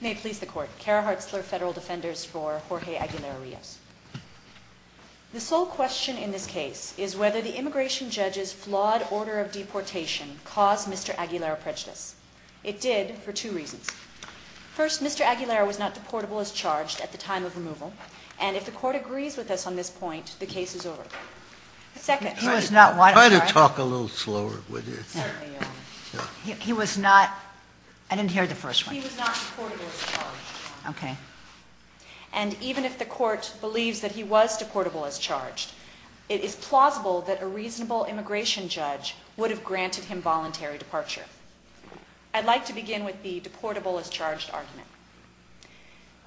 May it please the Court, Kara Hartzler, Federal Defenders for Jorge Aguilera-Rios. The sole question in this case is whether the immigration judge's flawed order of deportation caused Mr. Aguilera prejudice. It did for two reasons. First, Mr. Aguilera was not deportable as charged at the time of removal, and if the Court agrees with us on this point, the case is over. Second. Try to talk a little slower. He was not, I didn't hear the first one. He was not deportable as charged. Okay. And even if the Court believes that he was deportable as charged, it is plausible that a reasonable immigration judge would have granted him voluntary departure. I'd like to begin with the deportable as charged argument.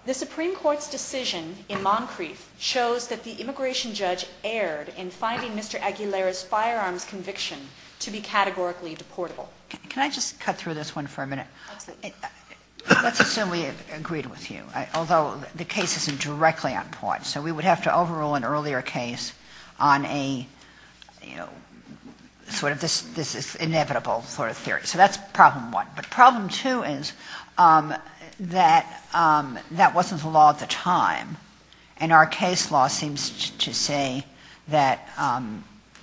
The Supreme Court's decision in Moncrief shows that the immigration judge erred in finding Mr. Aguilera's firearms conviction to be categorically deportable. Can I just cut through this one for a minute? Absolutely. Let's assume we have agreed with you, although the case isn't directly on point, so we would have to overrule an earlier case on a, you know, sort of this is inevitable sort of theory. So that's problem one. But problem two is that that wasn't the law at the time, and our case law seems to say that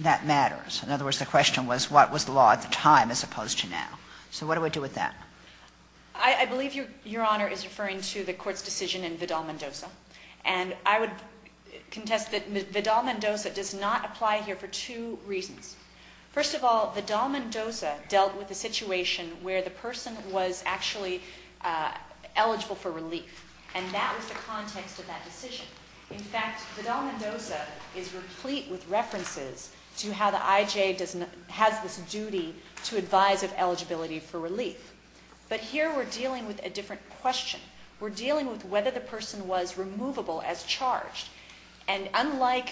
that matters. In other words, the question was what was the law at the time as opposed to now. So what do we do with that? I believe Your Honor is referring to the Court's decision in Vidal-Mendoza, and I would contest that Vidal-Mendoza does not apply here for two reasons. First of all, Vidal-Mendoza dealt with a situation where the person was actually eligible for relief, and that was the context of that decision. In fact, Vidal-Mendoza is replete with references to how the IJ has this duty to advise of eligibility for relief. But here we're dealing with a different question. We're dealing with whether the person was removable as charged. And unlike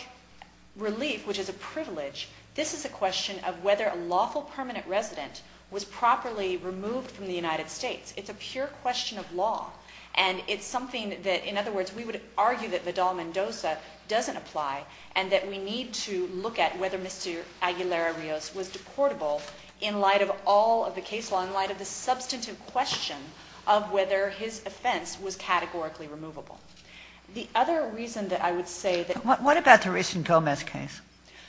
relief, which is a privilege, this is a question of whether a lawful permanent resident was properly removed from the United States. It's a pure question of law, and it's something that, in other words, we would argue that Vidal-Mendoza doesn't apply, and that we need to look at whether Mr. Aguilera-Rios was deportable in light of all of the case law, in light of the substantive question of whether his offense was categorically removable. The other reason that I would say that... What about the recent Gomez case,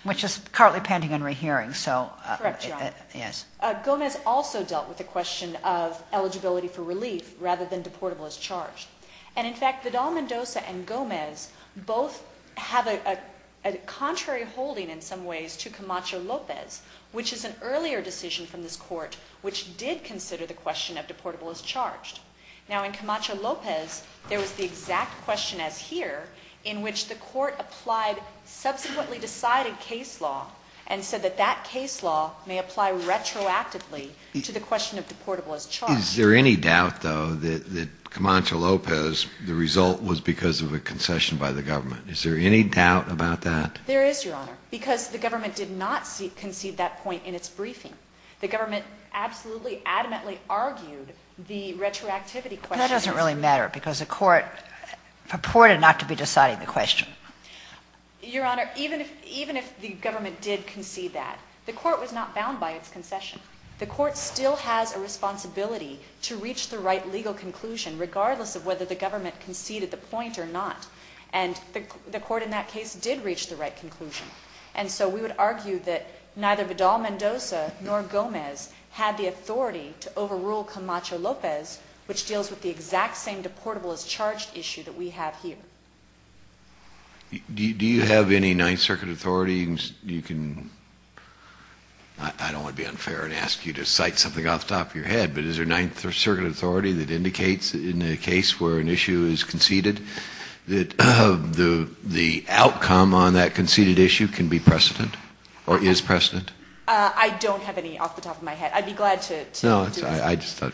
which is currently pending in rehearing, so... Correct, Your Honor. Yes. Gomez also dealt with the question of eligibility for relief rather than deportable as charged. And in fact, Vidal-Mendoza and Gomez both have a contrary holding in some ways to Camacho-Lopez, which is an earlier decision from this Court which did consider the question of deportable as charged. Now, in Camacho-Lopez, there was the exact question as here, in which the Court applied subsequently decided case law and said that that case law may apply retroactively to the question of deportable as charged. Is there any doubt, though, that Camacho-Lopez, the result was because of a concession by the government? Is there any doubt about that? There is, Your Honor, because the government did not concede that point in its briefing. The government absolutely adamantly argued the retroactivity question... That doesn't really matter because the Court purported not to be deciding the question. Your Honor, even if the government did concede that, the Court was not bound by its concession. The Court still has a responsibility to reach the right legal conclusion, regardless of whether the government conceded the point or not. And the Court in that case did reach the right conclusion. And so we would argue that neither Vidal-Mendoza nor Gomez had the authority to overrule Camacho-Lopez, which deals with the exact same deportable as charged issue that we have here. Do you have any Ninth Circuit authority? I don't want to be unfair and ask you to cite something off the top of your head, but is there a Ninth Circuit authority that indicates in a case where an issue is conceded that the outcome on that conceded issue can be precedent or is precedent? I don't have any off the top of my head. I'd be glad to... No, I just thought...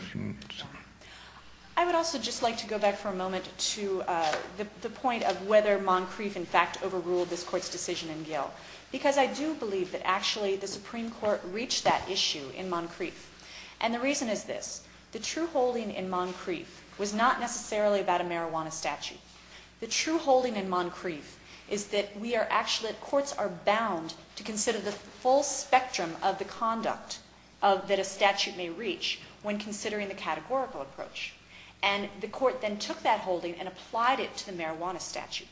I would also just like to go back for a moment to the point of whether Moncrief in fact overruled this Court's decision in Gill, because I do believe that actually the Supreme Court reached that issue in Moncrief. And the reason is this. The true holding in Moncrief was not necessarily about a marijuana statute. The true holding in Moncrief is that courts are bound to consider the full spectrum of the conduct that a statute may reach when considering the categorical approach. And the Court then took that holding and applied it to the marijuana statute.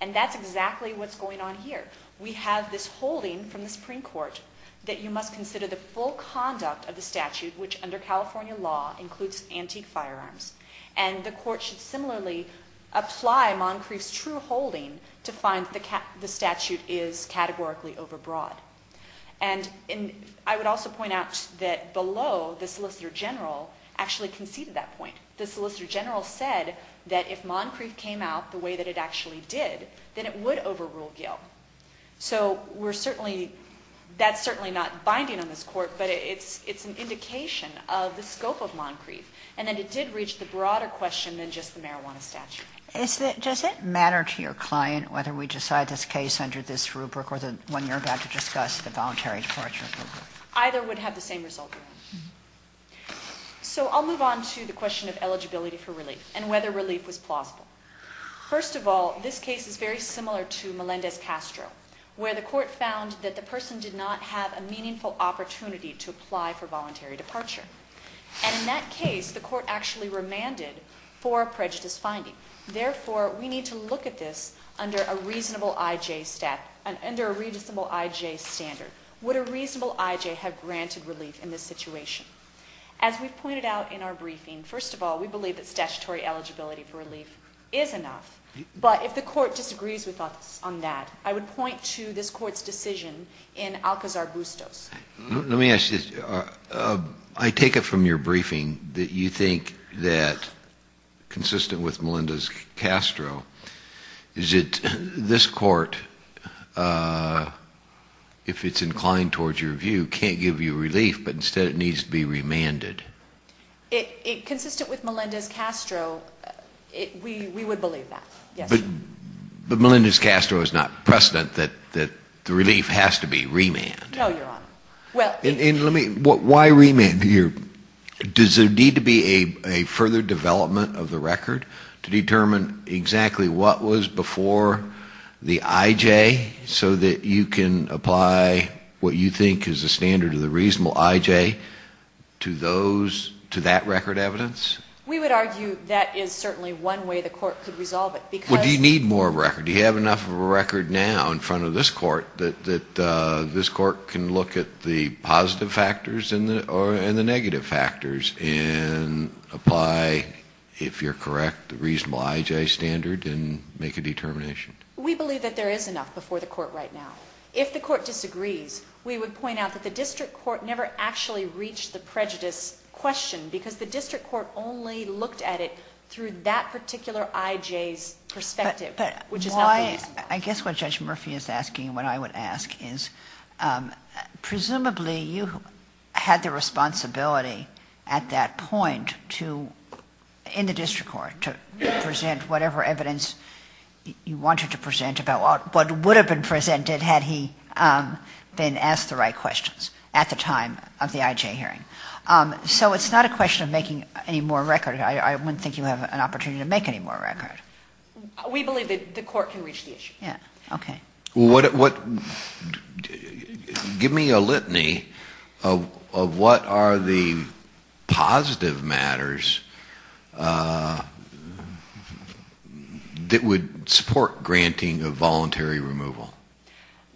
And that's exactly what's going on here. We have this holding from the Supreme Court that you must consider the full conduct of the statute, which under California law includes antique firearms. And the Court should similarly apply Moncrief's true holding to find the statute is categorically overbroad. And I would also point out that below, the Solicitor General actually conceded that point. The Solicitor General said that if Moncrief came out the way that it actually did, then it would overrule Gill. So that's certainly not binding on this Court, but it's an indication of the scope of Moncrief. And that it did reach the broader question than just the marijuana statute. Does it matter to your client whether we decide this case under this rubric or the one you're about to discuss, the voluntary departure rubric? Either would have the same result. So I'll move on to the question of eligibility for relief and whether relief was plausible. First of all, this case is very similar to Melendez-Castro, where the Court found that the person did not have a meaningful opportunity to apply for voluntary departure. And in that case, the Court actually remanded for a prejudice finding. Therefore, we need to look at this under a reasonable IJ standard. Would a reasonable IJ have granted relief in this situation? As we've pointed out in our briefing, first of all, we believe that statutory eligibility for relief is enough. But if the Court disagrees with us on that, I would point to this Court's decision in Alcazar-Bustos. Let me ask you this. I take it from your briefing that you think that, consistent with Melendez-Castro, is that this Court, if it's inclined towards your view, can't give you relief, but instead it needs to be remanded. Consistent with Melendez-Castro, we would believe that, yes. But Melendez-Castro is not precedent that the relief has to be remanded. No, Your Honor. Why remand? Does there need to be a further development of the record to determine exactly what was before the IJ so that you can apply what you think is the standard of the reasonable IJ to that record evidence? We would argue that is certainly one way the Court could resolve it. Well, do you need more record? Do you have enough of a record now in front of this Court that this Court can look at the positive factors and the negative factors and apply, if you're correct, the reasonable IJ standard and make a determination? We believe that there is enough before the Court right now. If the Court disagrees, we would point out that the district court never actually reached the prejudice question because the district court only looked at it through that particular IJ's perspective, which is not reasonable. I guess what Judge Murphy is asking and what I would ask is, presumably you had the responsibility at that point in the district court to present whatever evidence you wanted to present about what would have been presented had he been asked the right questions at the time of the IJ hearing. So it's not a question of making any more record. I wouldn't think you have an opportunity to make any more record. We believe that the Court can reach the issue. Okay. Give me a litany of what are the positive matters that would support granting a voluntary removal.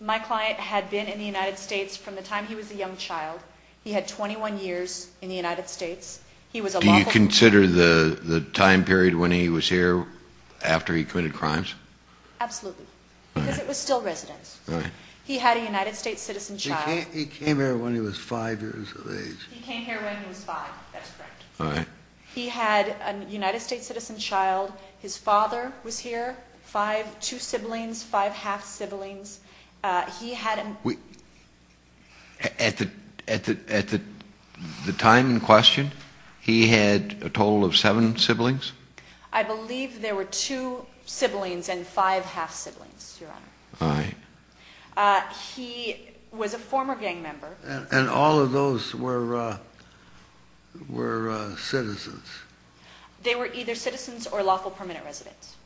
My client had been in the United States from the time he was a young child. He had 21 years in the United States. Do you consider the time period when he was here after he committed crimes? Absolutely. Because it was still residence. He had a United States citizen child. He came here when he was five years of age. He came here when he was five. That's correct. All right. He had a United States citizen child. His father was here, two siblings, five half-siblings. He had a... At the time in question, he had a total of seven siblings? I believe there were two siblings and five half-siblings, Your Honor. All right. He was a former gang member. And all of those were citizens? They were either citizens or lawful permanent residents.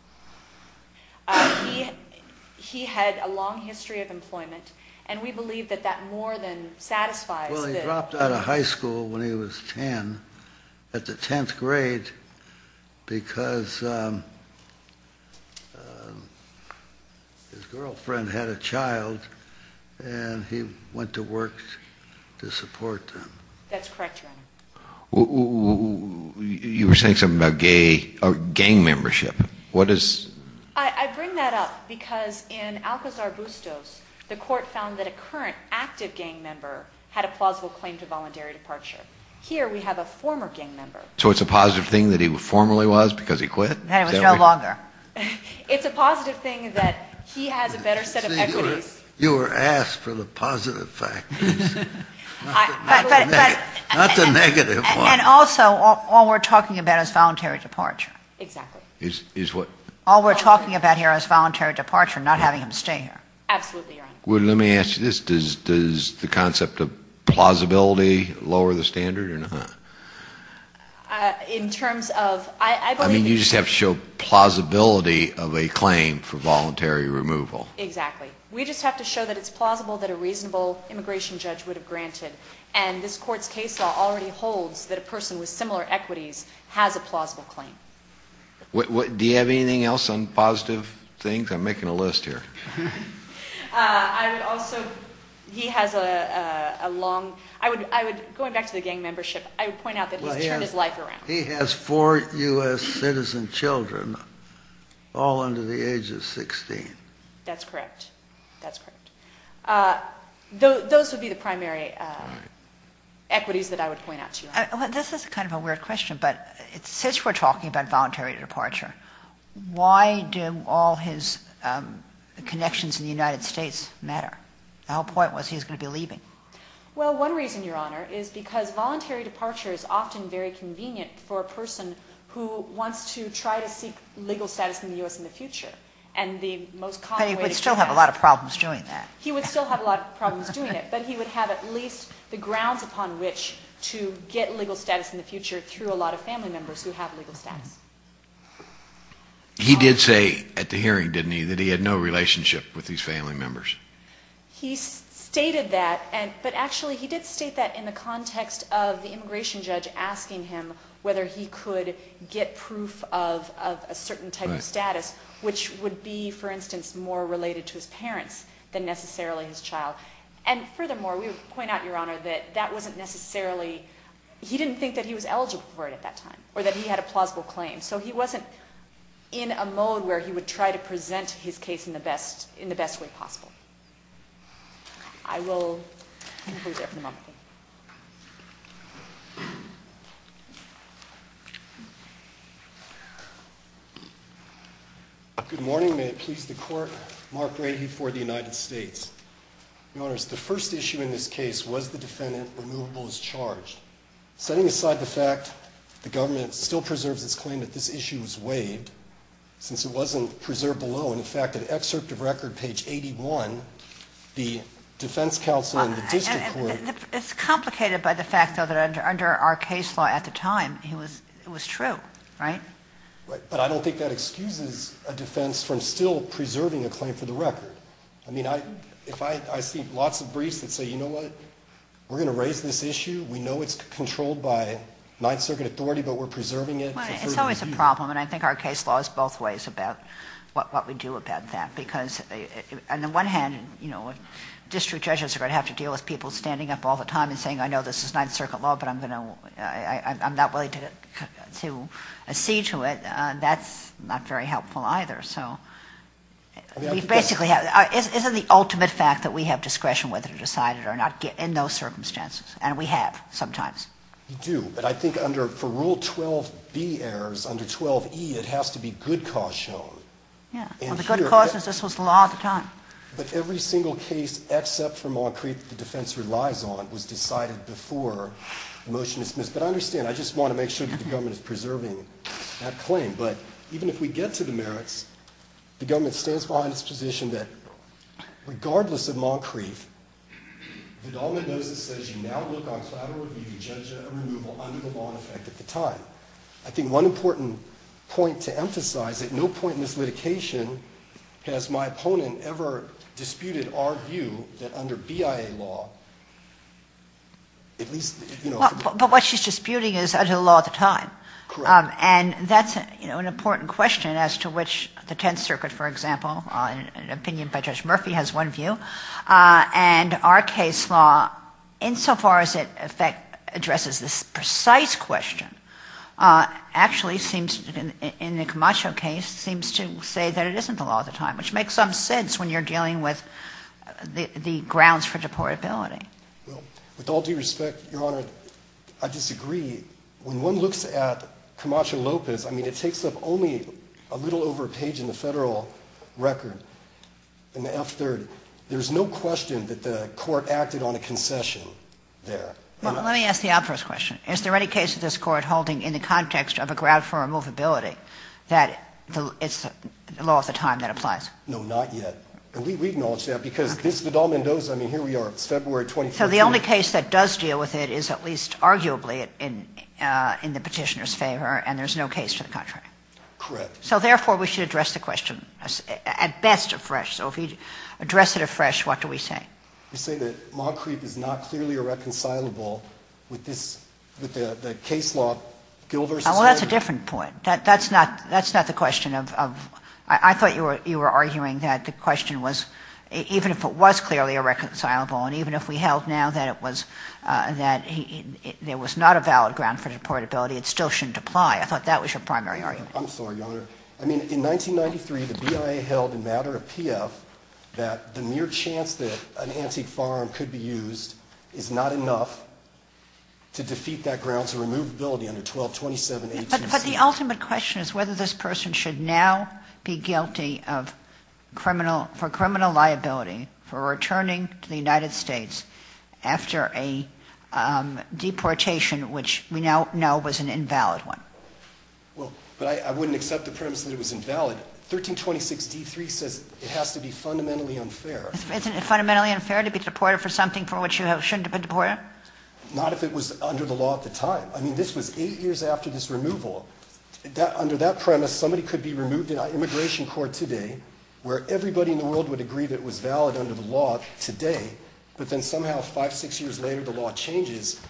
He had a long history of employment, and we believe that that more than satisfies... Well, he dropped out of high school when he was 10, at the 10th grade, because his girlfriend had a child, and he went to work to support them. That's correct, Your Honor. You were saying something about gang membership. What is... I bring that up because in Alcazar Bustos, the court found that a current active gang member had a plausible claim to voluntary departure. Here, we have a former gang member. So it's a positive thing that he formally was because he quit? It was no longer. It's a positive thing that he has a better set of equities. You were asked for the positive factors, not the negative ones. And also, all we're talking about is voluntary departure. Exactly. Is what? All we're talking about here is voluntary departure, not having him stay here. Absolutely, Your Honor. Well, let me ask you this. Does the concept of plausibility lower the standard or not? In terms of... I mean, you just have to show plausibility of a claim for voluntary removal. Exactly. We just have to show that it's plausible that a reasonable immigration judge would have granted. And this Court's case law already holds that a person with similar equities has a plausible claim. Do you have anything else on positive things? I'm making a list here. I would also... He has a long... I would... Going back to the gang membership, I would point out that he's turned his life around. He has four U.S. citizen children, all under the age of 16. That's correct. That's correct. Those would be the primary equities that I would point out to you. This is kind of a weird question, but since we're talking about voluntary departure, why do all his connections in the United States matter? The whole point was he was going to be leaving. Well, one reason, Your Honor, is because voluntary departure is often very convenient for a person who wants to try to seek legal status in the U.S. in the future. And the most common way... But he would still have a lot of problems doing that. He would still have a lot of problems doing it, but he would have at least the grounds upon which to get legal status in the future through a lot of family members who have legal status. He did say at the hearing, didn't he, that he had no relationship with these family members. He stated that, but actually he did state that in the context of the immigration judge asking him whether he could get proof of a certain type of status, which would be, for instance, more related to his parents than necessarily his child. And furthermore, we would point out, Your Honor, that that wasn't necessarily... That wasn't a plausible word at that time, or that he had a plausible claim. So he wasn't in a mode where he would try to present his case in the best way possible. I will conclude there for the moment. Good morning. May it please the Court. Mark Rahe for the United States. Your Honors, the first issue in this case was the defendant removable as charged. Setting aside the fact the government still preserves its claim that this issue was waived, since it wasn't preserved below, in fact, in excerpt of record page 81, the defense counsel and the district court... It's complicated by the fact, though, that under our case law at the time, it was true, right? But I don't think that excuses a defense from still preserving a claim for the record. I mean, I see lots of briefs that say, you know what, we're going to raise this issue. We know it's controlled by Ninth Circuit authority, but we're preserving it. It's always a problem, and I think our case law is both ways about what we do about that, because on the one hand, you know, district judges are going to have to deal with people standing up all the time and saying, I know this is Ninth Circuit law, but I'm not willing to see to it. That's not very helpful either. So we basically have... Isn't the ultimate fact that we have discretion whether to decide it or not in those circumstances? And we have sometimes. You do. But I think under... For Rule 12B errors, under 12E, it has to be good cause shown. Yeah. Well, the good cause is this was the law at the time. But every single case except for Moncrief that the defense relies on was decided before the motion is dismissed. But I understand. I just want to make sure that the government is preserving that claim. But even if we get to the merits, the government stands behind its position that regardless of Moncrief, the government knows it says you now look on collateral review to judge a removal under the law in effect at the time. I think one important point to emphasize, at no point in this litigation has my opponent ever disputed our view that under BIA law, at least... But what she's disputing is under the law at the time. Correct. And that's, you know, an important question as to which the Tenth Circuit, for example, in an opinion by Judge Murphy, has one view. And our case law, insofar as it addresses this precise question, actually seems, in the Camacho case, seems to say that it isn't the law at the time, which makes some sense when you're dealing with the grounds for deportability. Well, with all due respect, Your Honor, I disagree. When one looks at Camacho-Lopez, I mean, it takes up only a little over a page in the federal record in the F-3rd. There's no question that the court acted on a concession there. Well, let me ask the obvious question. Is there any case of this Court holding in the context of a grounds for removability that it's the law at the time that applies? No, not yet. And we acknowledge that because this, the Dal Mendoza, I mean, here we are, it's February 2014. So the only case that does deal with it is at least arguably in the petitioner's favor, and there's no case to the contrary. Correct. So, therefore, we should address the question at best afresh. So if we address it afresh, what do we say? We say that Moncrief is not clearly irreconcilable with this, with the case law, Gill v. Henry. Well, that's a different point. That's not the question of, I thought you were arguing that the question was, even if it was clearly irreconcilable and even if we held now that it was, that there was not a valid ground for deportability, it still shouldn't apply. I thought that was your primary argument. I'm sorry, Your Honor. I mean, in 1993, the BIA held in matter of P.F. that the mere chance that an antique farm could be used is not enough to defeat that grounds for removability under 1227A2C. But the ultimate question is whether this person should now be guilty of criminal, for criminal liability for returning to the United States after a deportation, which we now know was an invalid one. Well, but I wouldn't accept the premise that it was invalid. 1326D3 says it has to be fundamentally unfair. Isn't it fundamentally unfair to be deported for something for which you shouldn't have been deported? Not if it was under the law at the time. I mean, this was eight years after this removal. Under that premise, somebody could be removed in an immigration court today where everybody in the world would agree that it was valid under the law today. But then somehow five, six years later, the law changes.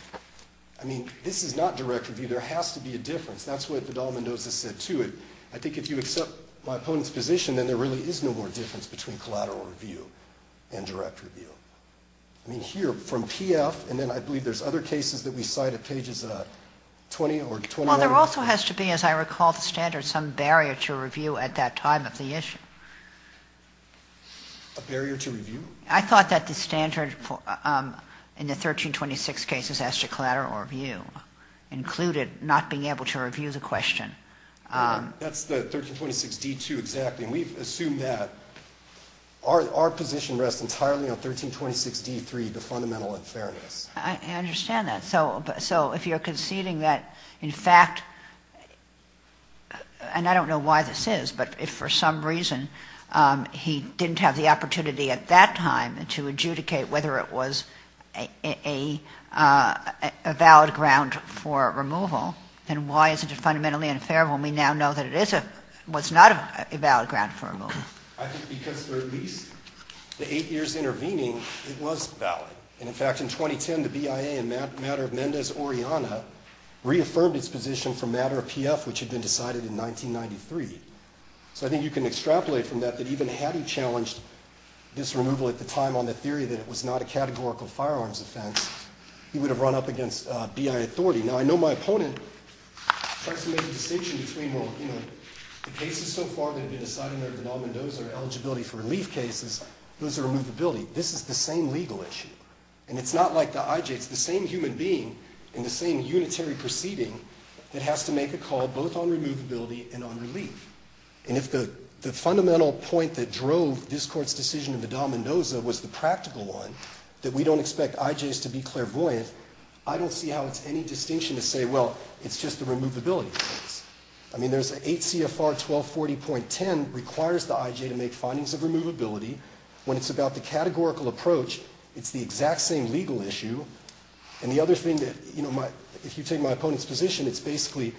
I mean, this is not direct review. There has to be a difference. That's what Vidal-Mendoza said, too. I think if you accept my opponent's position, then there really is no more difference between collateral review and direct review. I mean, here, from PF, and then I believe there's other cases that we cite at pages 20 or 21. Well, there also has to be, as I recall the standards, some barrier to review at that time of the issue. A barrier to review? I thought that the standard in the 1326 cases as to collateral review included not being able to review the question. That's the 1326D2, exactly. I mean, we've assumed that. Our position rests entirely on 1326D3, the fundamental unfairness. I understand that. So if you're conceding that, in fact, and I don't know why this is, but if for some reason he didn't have the opportunity at that time to adjudicate whether it was a valid ground for removal, then why isn't it fundamentally unfair when we now know that it was not a valid ground for removal? I think because for at least the eight years intervening, it was valid. And, in fact, in 2010, the BIA in matter of Mendez-Oriana reaffirmed its position for matter of PF, which had been decided in 1993. So I think you can extrapolate from that that even had he challenged this removal at the time on the theory that it was not a categorical firearms offense, he would have run up against BIA authority. Now, I know my opponent tries to make a distinction between, well, you know, the cases so far that have been decided under the Dahl-Mendoza are eligibility for relief cases. Those are removability. This is the same legal issue. And it's not like the IJ. It's the same human being in the same unitary proceeding that has to make a call both on removability and on relief. And if the fundamental point that drove this Court's decision in the Dahl-Mendoza was the practical one, that we don't expect IJs to be clairvoyant, I don't see how it's any distinction to say, well, it's just a removability case. I mean, there's an 8 CFR 1240.10 requires the IJ to make findings of removability. When it's about the categorical approach, it's the exact same legal issue. And the other thing that, you know, if you take my opponent's position, it's basically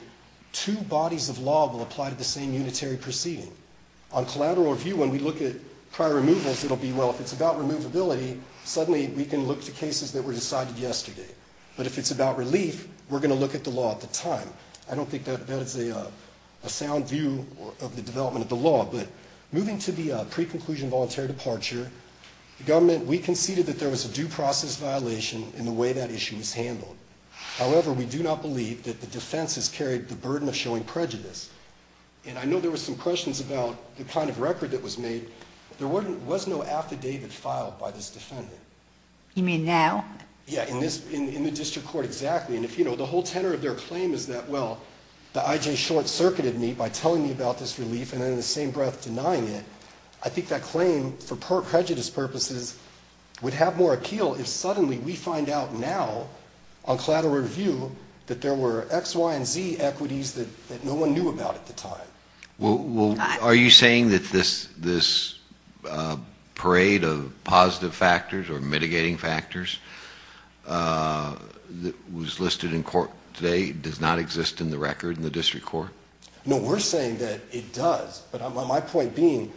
two bodies of law will apply to the same unitary proceeding. On collateral review, when we look at prior removals, it will be, well, if it's about removability, suddenly we can look to cases that were decided yesterday. But if it's about relief, we're going to look at the law at the time. I don't think that is a sound view of the development of the law. But moving to the pre-conclusion voluntary departure, the government, we conceded that there was a due process violation in the way that issue was handled. However, we do not believe that the defense has carried the burden of showing prejudice. And I know there were some questions about the kind of record that was made. There was no affidavit filed by this defendant. You mean now? Yeah, in the district court, exactly. And if, you know, the whole tenor of their claim is that, well, the IJ short-circuited me by telling me about this relief and then in the same breath denying it, I think that claim, for prejudice purposes, would have more appeal if suddenly we find out now on collateral review that there were X, Y, and Z equities that no one knew about at the time. Well, are you saying that this parade of positive factors or mitigating factors that was listed in court today does not exist in the record in the district court? No, we're saying that it does. But my point being,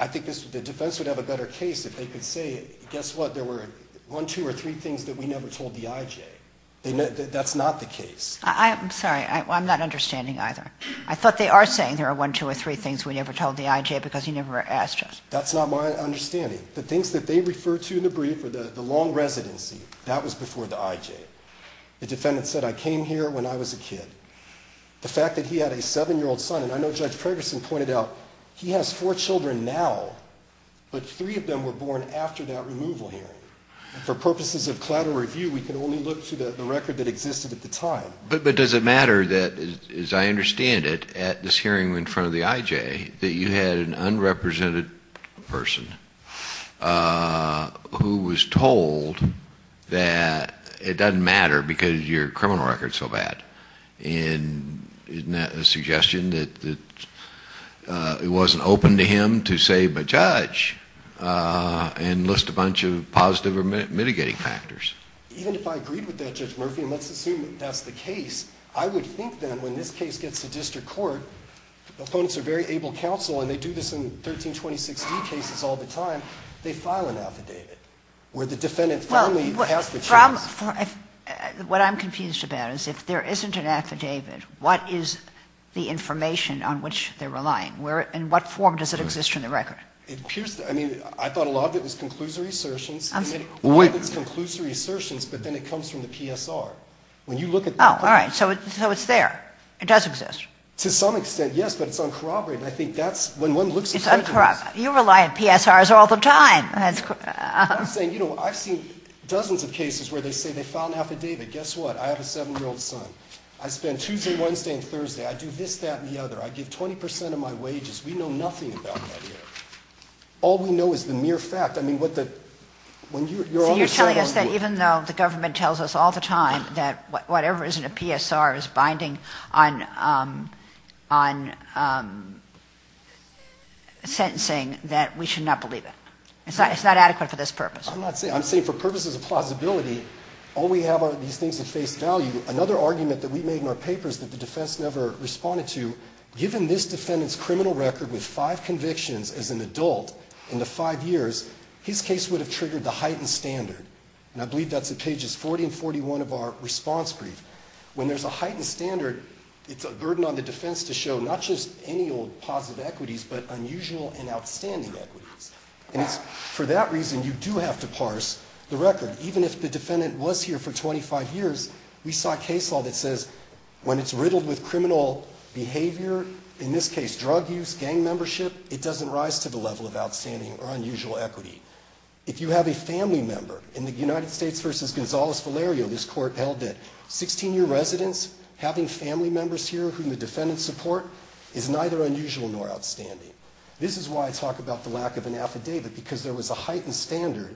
I think the defense would have a better case if they could say, guess what, there were one, two, or three things that we never told the IJ. That's not the case. I'm sorry, I'm not understanding either. I thought they are saying there are one, two, or three things we never told the IJ because you never asked us. That's not my understanding. The things that they refer to in the brief or the long residency, that was before the IJ. The defendant said, I came here when I was a kid. The fact that he had a 7-year-old son, and I know Judge Ferguson pointed out, he has four children now, but three of them were born after that removal hearing. For purposes of collateral review, we can only look to the record that existed at the time. But does it matter that, as I understand it, at this hearing in front of the IJ, that you had an unrepresented person who was told that it doesn't matter because your criminal record is so bad? Isn't that a suggestion that it wasn't open to him to save a judge and list a bunch of positive or mitigating factors? Even if I agreed with that, Judge Murphy, and let's assume that that's the case, I would think that when this case gets to district court, opponents are very able counsel, and they do this in 1326D cases all the time, they file an affidavit where the defendant finally has the choice. What I'm confused about is if there isn't an affidavit, what is the information on which they're relying? In what form does it exist in the record? I mean, I thought a lot of it was conclusory assertions. I mean, a lot of it's conclusory assertions, but then it comes from the PSR. Oh, all right. So it's there. It does exist. To some extent, yes, but it's uncorroborated. I think that's when one looks at the records. It's uncorroborated. You rely on PSRs all the time. I'm saying, you know, I've seen dozens of cases where they say they file an affidavit. Guess what? I have a 7-year-old son. I spend Tuesday, Wednesday, and Thursday. I do this, that, and the other. I give 20% of my wages. We know nothing about that here. All we know is the mere fact. I mean, what the – when you're on the court. So you're telling us that even though the government tells us all the time that whatever is in a PSR is binding on sentencing, that we should not believe it. It's not adequate for this purpose. I'm not saying – I'm saying for purposes of plausibility, all we have are these things that face value. Another argument that we made in our paper is that the defense never responded to. Given this defendant's criminal record with five convictions as an adult in the five years, his case would have triggered the heightened standard. And I believe that's at pages 40 and 41 of our response brief. When there's a heightened standard, it's a burden on the defense to show not just any old positive equities, but unusual and outstanding equities. And it's for that reason you do have to parse the record. Even if the defendant was here for 25 years, we saw a case law that says when it's riddled with criminal behavior, in this case drug use, gang membership, it doesn't rise to the level of outstanding or unusual equity. If you have a family member, in the United States v. Gonzales-Valerio, this court held that 16-year residents having family members here whom the defendants support is neither unusual nor outstanding. This is why I talk about the lack of an affidavit, because there was a heightened standard.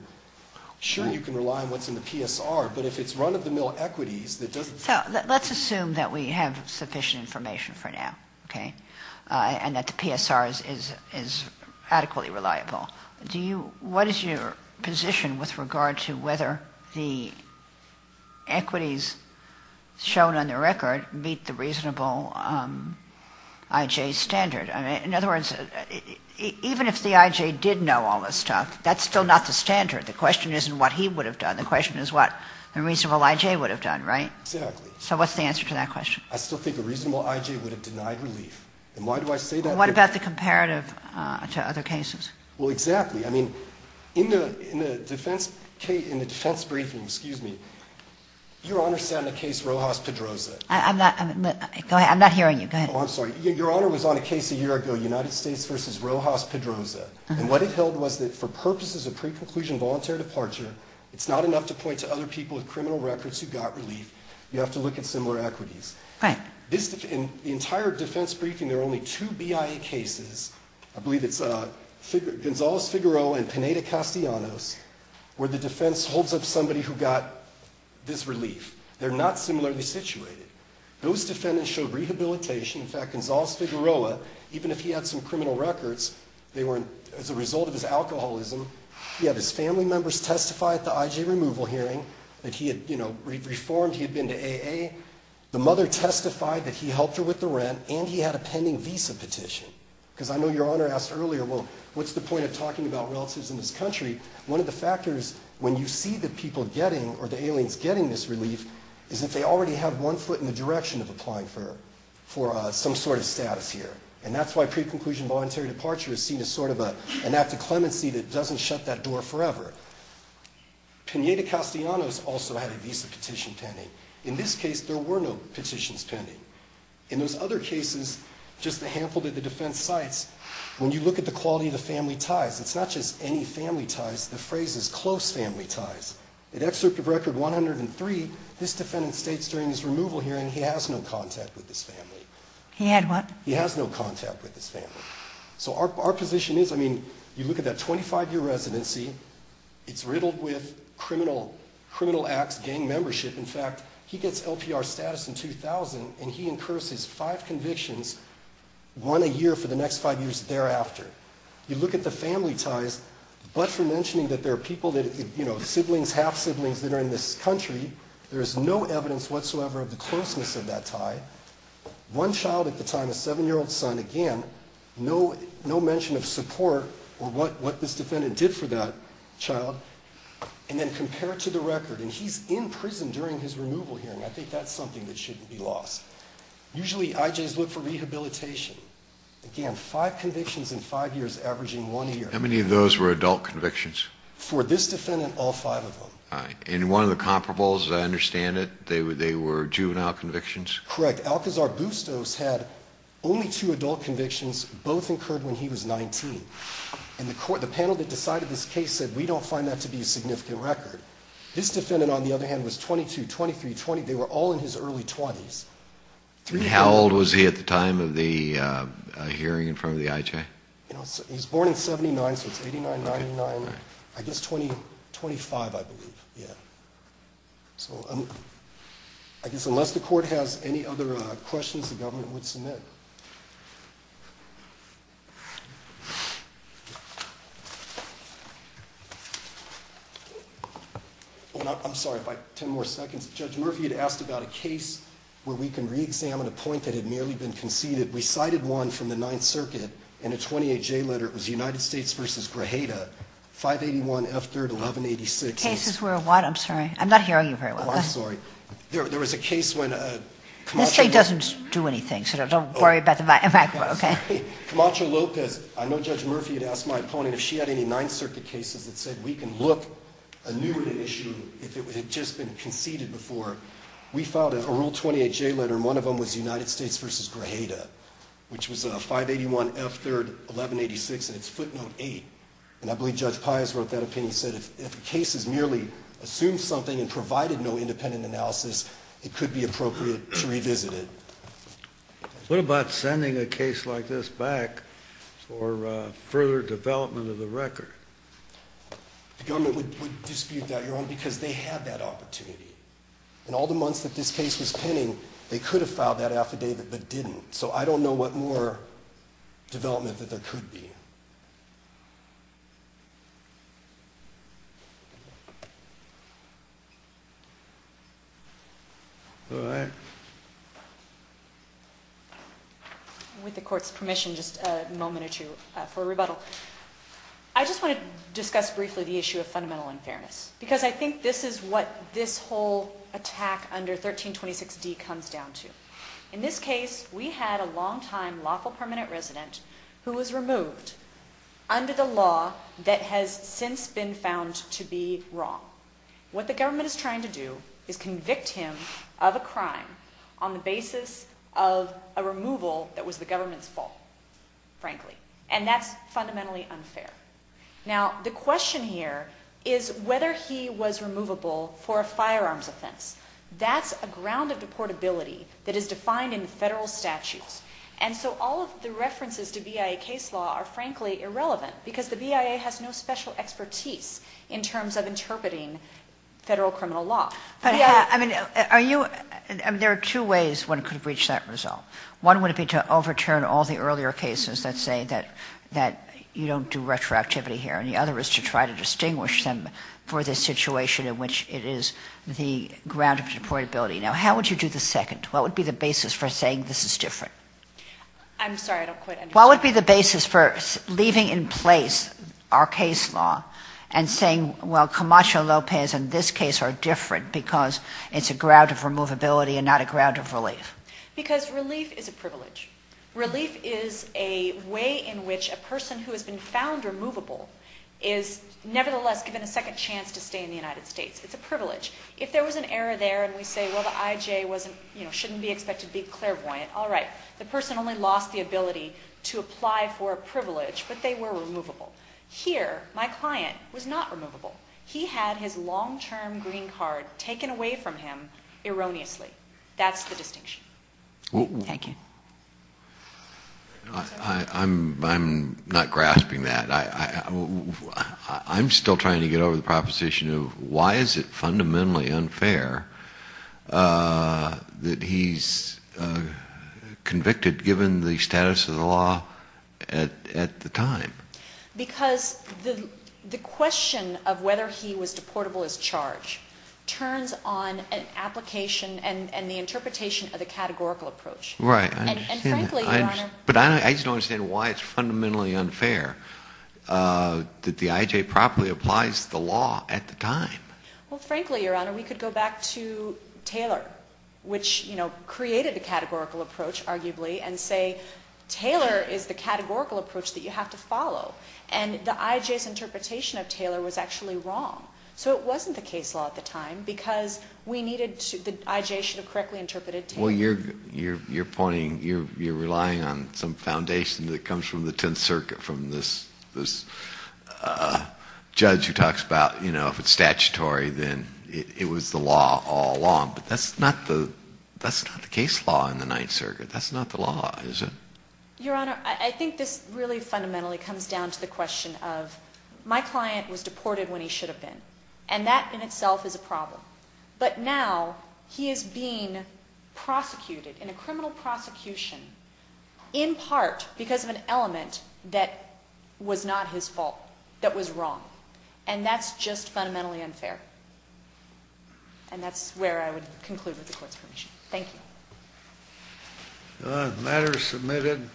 Sure, you can rely on what's in the PSR, but if it's run-of-the-mill equities that doesn't – So let's assume that we have sufficient information for now, okay, and that the PSR is adequately reliable. What is your position with regard to whether the equities shown on the record meet the reasonable I.J. standard? In other words, even if the I.J. did know all this stuff, that's still not the standard. The question isn't what he would have done. The question is what a reasonable I.J. would have done, right? Exactly. So what's the answer to that question? I still think a reasonable I.J. would have denied relief. And why do I say that? What about the comparative to other cases? Well, exactly. I mean, in the defense briefing, your Honor sat on the case Rojas-Pedroza. I'm not – go ahead. I'm not hearing you. Go ahead. Oh, I'm sorry. Your Honor was on a case a year ago, United States v. Rojas-Pedroza. And what it held was that for purposes of pre-conclusion voluntary departure, it's not enough to point to other people with criminal records who got relief. You have to look at similar equities. Right. In the entire defense briefing, there are only two BIA cases. I believe it's Gonzales-Figueroa and Pineda-Castellanos, where the defense holds up somebody who got this relief. They're not similarly situated. Those defendants showed rehabilitation. In fact, Gonzales-Figueroa, even if he had some criminal records, they weren't as a result of his alcoholism. He had his family members testify at the I.J. removal hearing that he had, you know, reformed. He had been to AA. The mother testified that he helped her with the rent, and he had a pending visa petition. Because I know Your Honor asked earlier, well, what's the point of talking about relatives in this country? One of the factors when you see the people getting or the aliens getting this relief is that they already have one foot in the direction of applying for some sort of status here. And that's why pre-conclusion voluntary departure is seen as sort of an act of clemency that doesn't shut that door forever. Pineda-Castellanos also had a visa petition pending. In this case, there were no petitions pending. In those other cases, just the handful that the defense cites, when you look at the quality of the family ties, it's not just any family ties. The phrase is close family ties. In Excerpt of Record 103, this defendant states during his removal hearing he has no contact with his family. He had what? He has no contact with his family. So our position is, I mean, you look at that 25-year residency. It's riddled with criminal acts, gang membership. In fact, he gets LPR status in 2000, and he incurs his five convictions, one a year for the next five years thereafter. You look at the family ties, but for mentioning that there are people that, you know, siblings, half-siblings that are in this country, there is no evidence whatsoever of the closeness of that tie. One child at the time, a 7-year-old son, again, no mention of support or what this defendant did for that child. And then compare it to the record, and he's in prison during his removal hearing. I think that's something that shouldn't be lost. Usually IJs look for rehabilitation. Again, five convictions in five years averaging one year. How many of those were adult convictions? For this defendant, all five of them. And one of the comparables, as I understand it, they were juvenile convictions? Correct. Alcazar-Bustos had only two adult convictions, both incurred when he was 19. And the panel that decided this case said, we don't find that to be a significant record. This defendant, on the other hand, was 22, 23, 20. They were all in his early 20s. And how old was he at the time of the hearing in front of the IJ? He was born in 79, so it's 89, 99. I guess 25, I believe. So I guess unless the court has any other questions, the government would submit. I'm sorry, if I have 10 more seconds. Judge Murphy had asked about a case where we can reexamine a point that had merely been conceded. We cited one from the Ninth Circuit in a 28-J letter. It was United States v. Grajeda, 581 F3rd 1186. The cases were what? I'm sorry. I'm not hearing you very well. Oh, I'm sorry. There was a case when Camacho- This thing doesn't do anything, so don't worry about the micro, okay? Camacho-Lopez, I know Judge Murphy had asked my opponent if she had any Ninth Circuit cases that said we can look a new issue if it had just been conceded before. We filed a Rule 28-J letter, and one of them was United States v. Grajeda, which was 581 F3rd 1186, and it's footnote 8. And I believe Judge Pius wrote that opinion. He said if the case has merely assumed something and provided no independent analysis, it could be appropriate to revisit it. What about sending a case like this back for further development of the record? The government would dispute that, Your Honor, because they had that opportunity. In all the months that this case was pending, they could have filed that affidavit but didn't. So I don't know what more development that there could be. All right. With the Court's permission, just a moment or two for a rebuttal. I just want to discuss briefly the issue of fundamental unfairness because I think this is what this whole attack under 1326D comes down to. In this case, we had a longtime lawful permanent resident who was removed under the law that has since been found to be wrong. What the government is trying to do is convict him of a crime on the basis of a removal that was the government's fault, frankly, and that's fundamentally unfair. Now, the question here is whether he was removable for a firearms offense. That's a ground of deportability that is defined in federal statutes, and so all of the references to BIA case law are, frankly, irrelevant because the BIA has no special expertise in terms of interpreting federal criminal law. I mean, there are two ways one could reach that result. One would be to overturn all the earlier cases that say that you don't do retroactivity here, and the other is to try to distinguish them for the situation in which it is the ground of deportability. Now, how would you do the second? What would be the basis for saying this is different? I'm sorry, I don't quite understand. What would be the basis for leaving in place our case law and saying, well, Camacho Lopez and this case are different because it's a ground of removability and not a ground of relief? Because relief is a privilege. Relief is a way in which a person who has been found removable is nevertheless given a second chance to stay in the United States. It's a privilege. If there was an error there and we say, well, the IJ shouldn't be expected to be clairvoyant, all right. The person only lost the ability to apply for a privilege, but they were removable. Here, my client was not removable. He had his long-term green card taken away from him erroneously. That's the distinction. Thank you. I'm not grasping that. I'm still trying to get over the proposition of why is it fundamentally unfair that he's convicted, given the status of the law at the time? Because the question of whether he was deportable as charged turns on an application and the interpretation of the categorical approach. Right. And frankly, Your Honor. But I just don't understand why it's fundamentally unfair that the IJ properly applies the law at the time. Well, frankly, Your Honor, we could go back to Taylor, which created the categorical approach, arguably, and say Taylor is the categorical approach that you have to follow. And the IJ's interpretation of Taylor was actually wrong. So it wasn't the case law at the time because we needed to, the IJ should have correctly interpreted Taylor. Well, you're pointing, you're relying on some foundation that comes from the Tenth Circuit, from this judge who talks about, you know, if it's statutory, then it was the law all along. But that's not the case law in the Ninth Circuit. That's not the law, is it? Your Honor, I think this really fundamentally comes down to the question of, my client was deported when he should have been. And that in itself is a problem. But now he is being prosecuted, in a criminal prosecution, in part because of an element that was not his fault, that was wrong. And that's just fundamentally unfair. And that's where I would conclude with the Court's permission. Thank you. The matter is submitted.